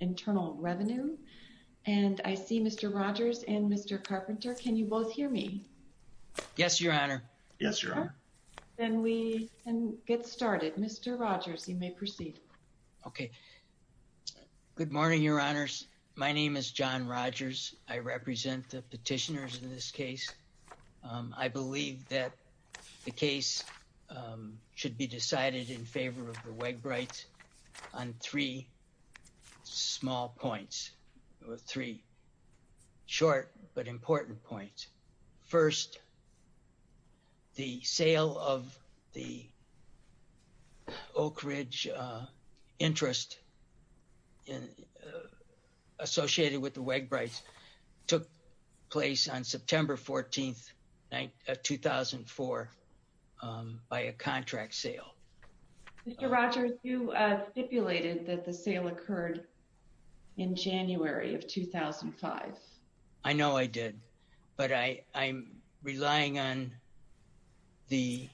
Internal Revenue, and I see Mr. Rogers and Mr. Carpenter. Can you both hear me? Yes, Your Honor. Yes, Your Honor. Then we can get started. Mr. Rogers, you may proceed. Okay. Good morning, Your Honors. My name is John Rogers. I represent the petitioners in this case. I believe that the case should be decided in favor of the Wegbreits on three small points, or three short but important points. First, the sale of the Oak Ridge interest associated with the Wegbreits took place on September 14th, 2004 by a contract sale. Mr. Rogers, you stipulated that the sale occurred in January of 2005. I know I did, but I'm relying on the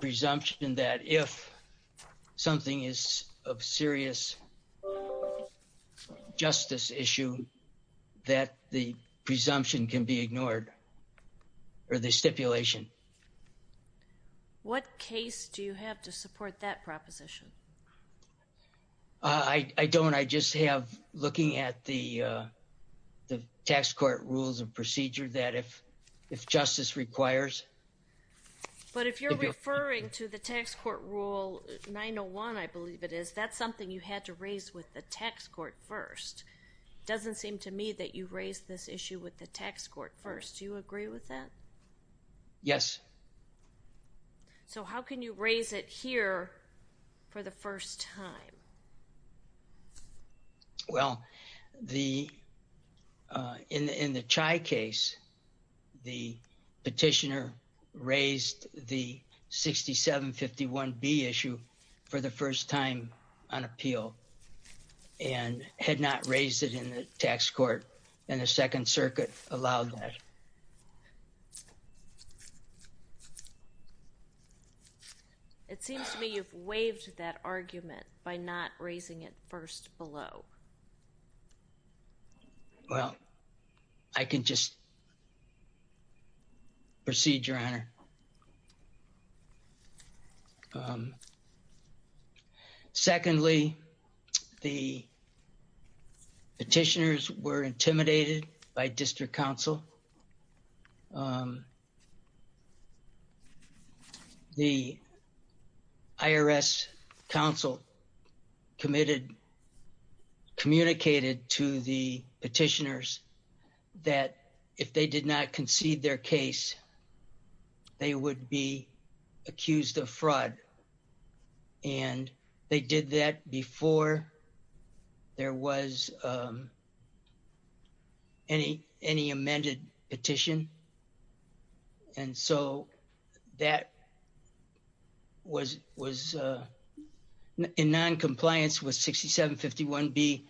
presumption that if something is of serious justice issue, that the presumption can be ignored, or the stipulation. What case do you have to support that proposition? I don't. I just have looking at the tax court rules and procedure that if justice requires. But if you're referring to the tax court rule 901, I believe it is, that's something you had to raise with the tax court first. It doesn't seem to me that you raised this issue with the tax court first. Do you agree with that? Yes. So how can you raise it here for the first time? Well, in the Chai case, the petitioner raised the 6751B issue for the first time on appeal, and had not raised it in the tax court, and the Second Circuit allowed that. It seems to me you've waived that argument by not raising it first below. Well, I can just proceed, Your Honor. Secondly, the petitioners were intimidated by district counsel. The IRS counsel communicated to the petitioners that if they did not concede their case, they would be accused of fraud. And they did that before there was any amended petition. And so that was in noncompliance with 6751B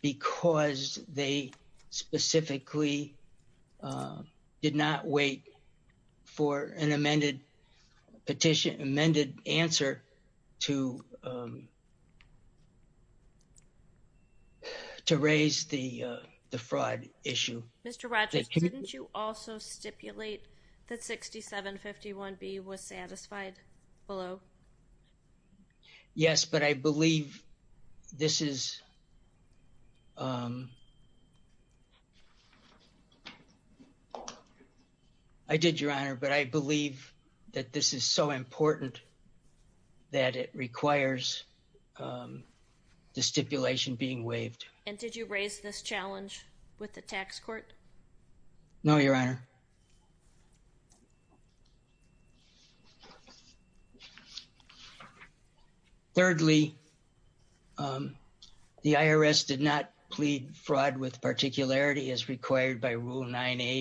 because they specifically did not wait for an amended petition, amended answer to raise the fraud issue. Mr. Rogers, didn't you also stipulate that 6751B was satisfied below? Yes, but I believe this is, I did, Your Honor, but I believe that this is so important that it requires the stipulation being waived. And did you raise this challenge with the tax court? No, Your Honor. All right. Thank you. Mr. Rogers, did you raise this challenge with the tax court? No, Your Honor. Mr. Rogers, did you raise this challenge with the tax court? No, Your Honor. Mr. Rogers, did you raise this challenge with the tax court? No, Your Honor. Mr. Rogers, did you raise this challenge with the tax court? As Your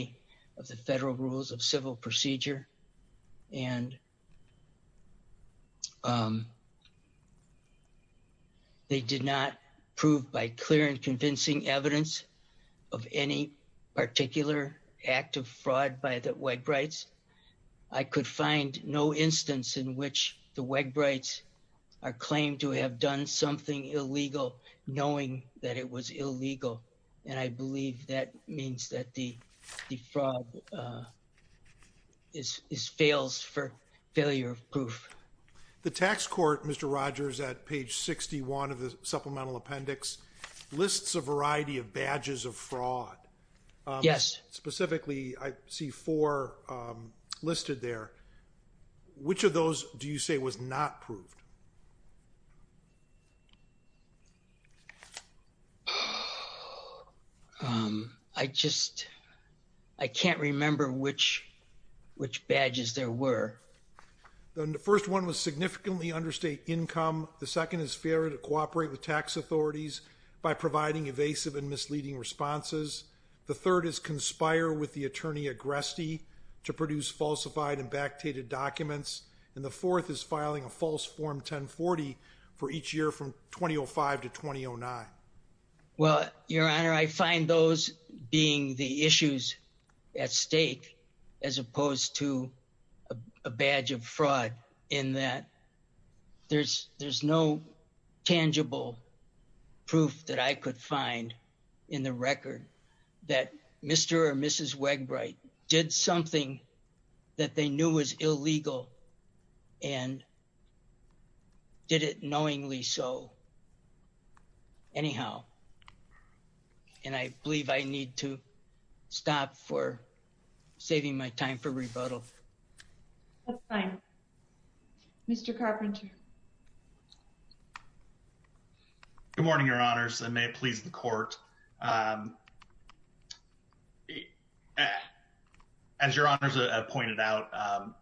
Honor has pointed out,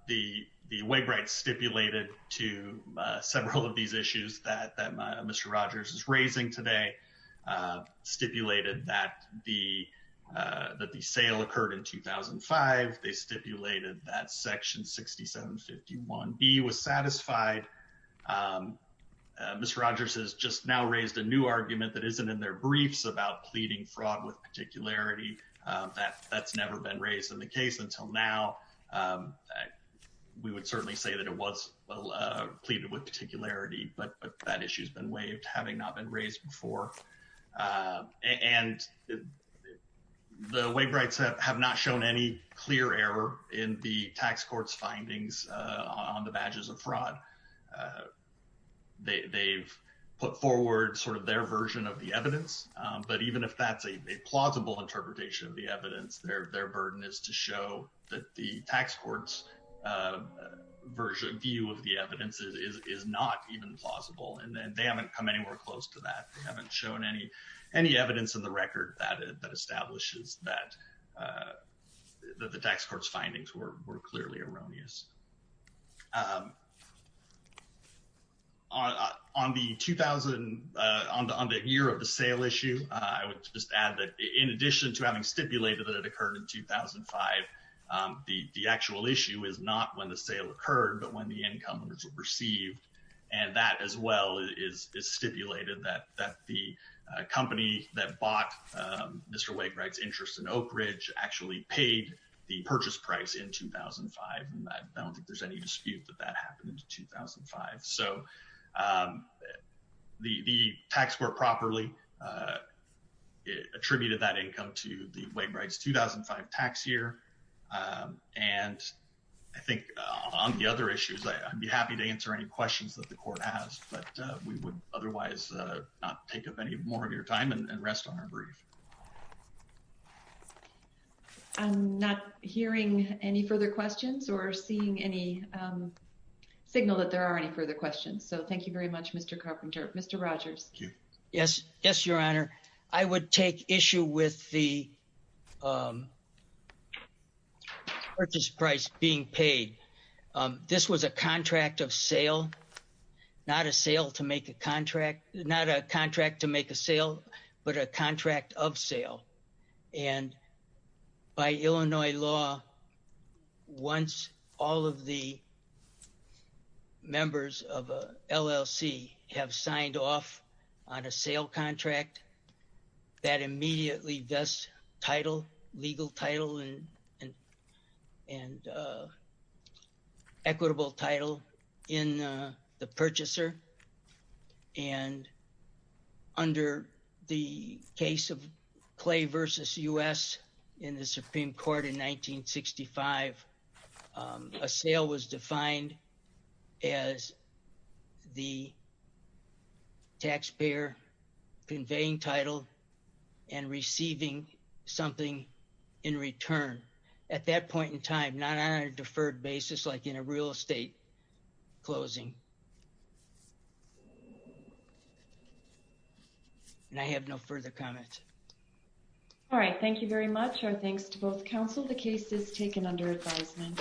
the Waveride stipulated to several of these issues that Mr. Rogers is raising today, stipulated that the sale occurred in 2005. They stipulated that Section 6751B was satisfied. Mr. Rogers has just now raised a new argument that isn't in their briefs about pleading fraud with particularity. That's never been raised in the case until now. We would certainly say that it was pleaded with particularity, but that issue's been waived, having not been raised before. And the Waverides have not shown any clear error in the tax court's findings on the badges of fraud. They've put forward sort of their version of the evidence, but even if that's a plausible interpretation of the evidence, their burden is to show that the tax court's view of the evidence is not even plausible. And they haven't come anywhere close to that. They haven't shown any evidence in the record that establishes that the tax court's findings were clearly erroneous. On the year of the sale issue, I would just add that in addition to having stipulated that it occurred in 2005, the actual issue is not when the sale occurred, but when the income was received. And that as well is stipulated that the company that bought Mr. Waveride's interest in Oak Ridge actually paid the purchase price in 2005. And I don't think there's any dispute that that happened in 2005. So the tax court properly attributed that income to the Waveride's 2005 tax year. And I think on the other issues, I'd be happy to answer any questions that the court has, but we would otherwise not take up any more of your time and rest on our brief. I'm not hearing any further questions or seeing any signal that there are any further questions. So thank you very much, Mr. Carpenter. Mr. Rogers. Yes. Yes, Your Honor. I would take issue with the purchase price being paid. This was a contract of sale, not a sale to make a contract, not a contract to make a sale, but a contract of sale. And by Illinois law, once all of the members of LLC have signed off on a sale contract, that immediately does title, legal title and equitable title in the purchaser. And under the case of Clay versus U.S. in the Supreme Court in 1965, a sale was defined as the taxpayer conveying title and receiving something in return at that point in time, not on a deferred basis like in a real estate closing. And I have no further comments. All right. Thank you very much. Our thanks to both counsel. The case is taken under advisement.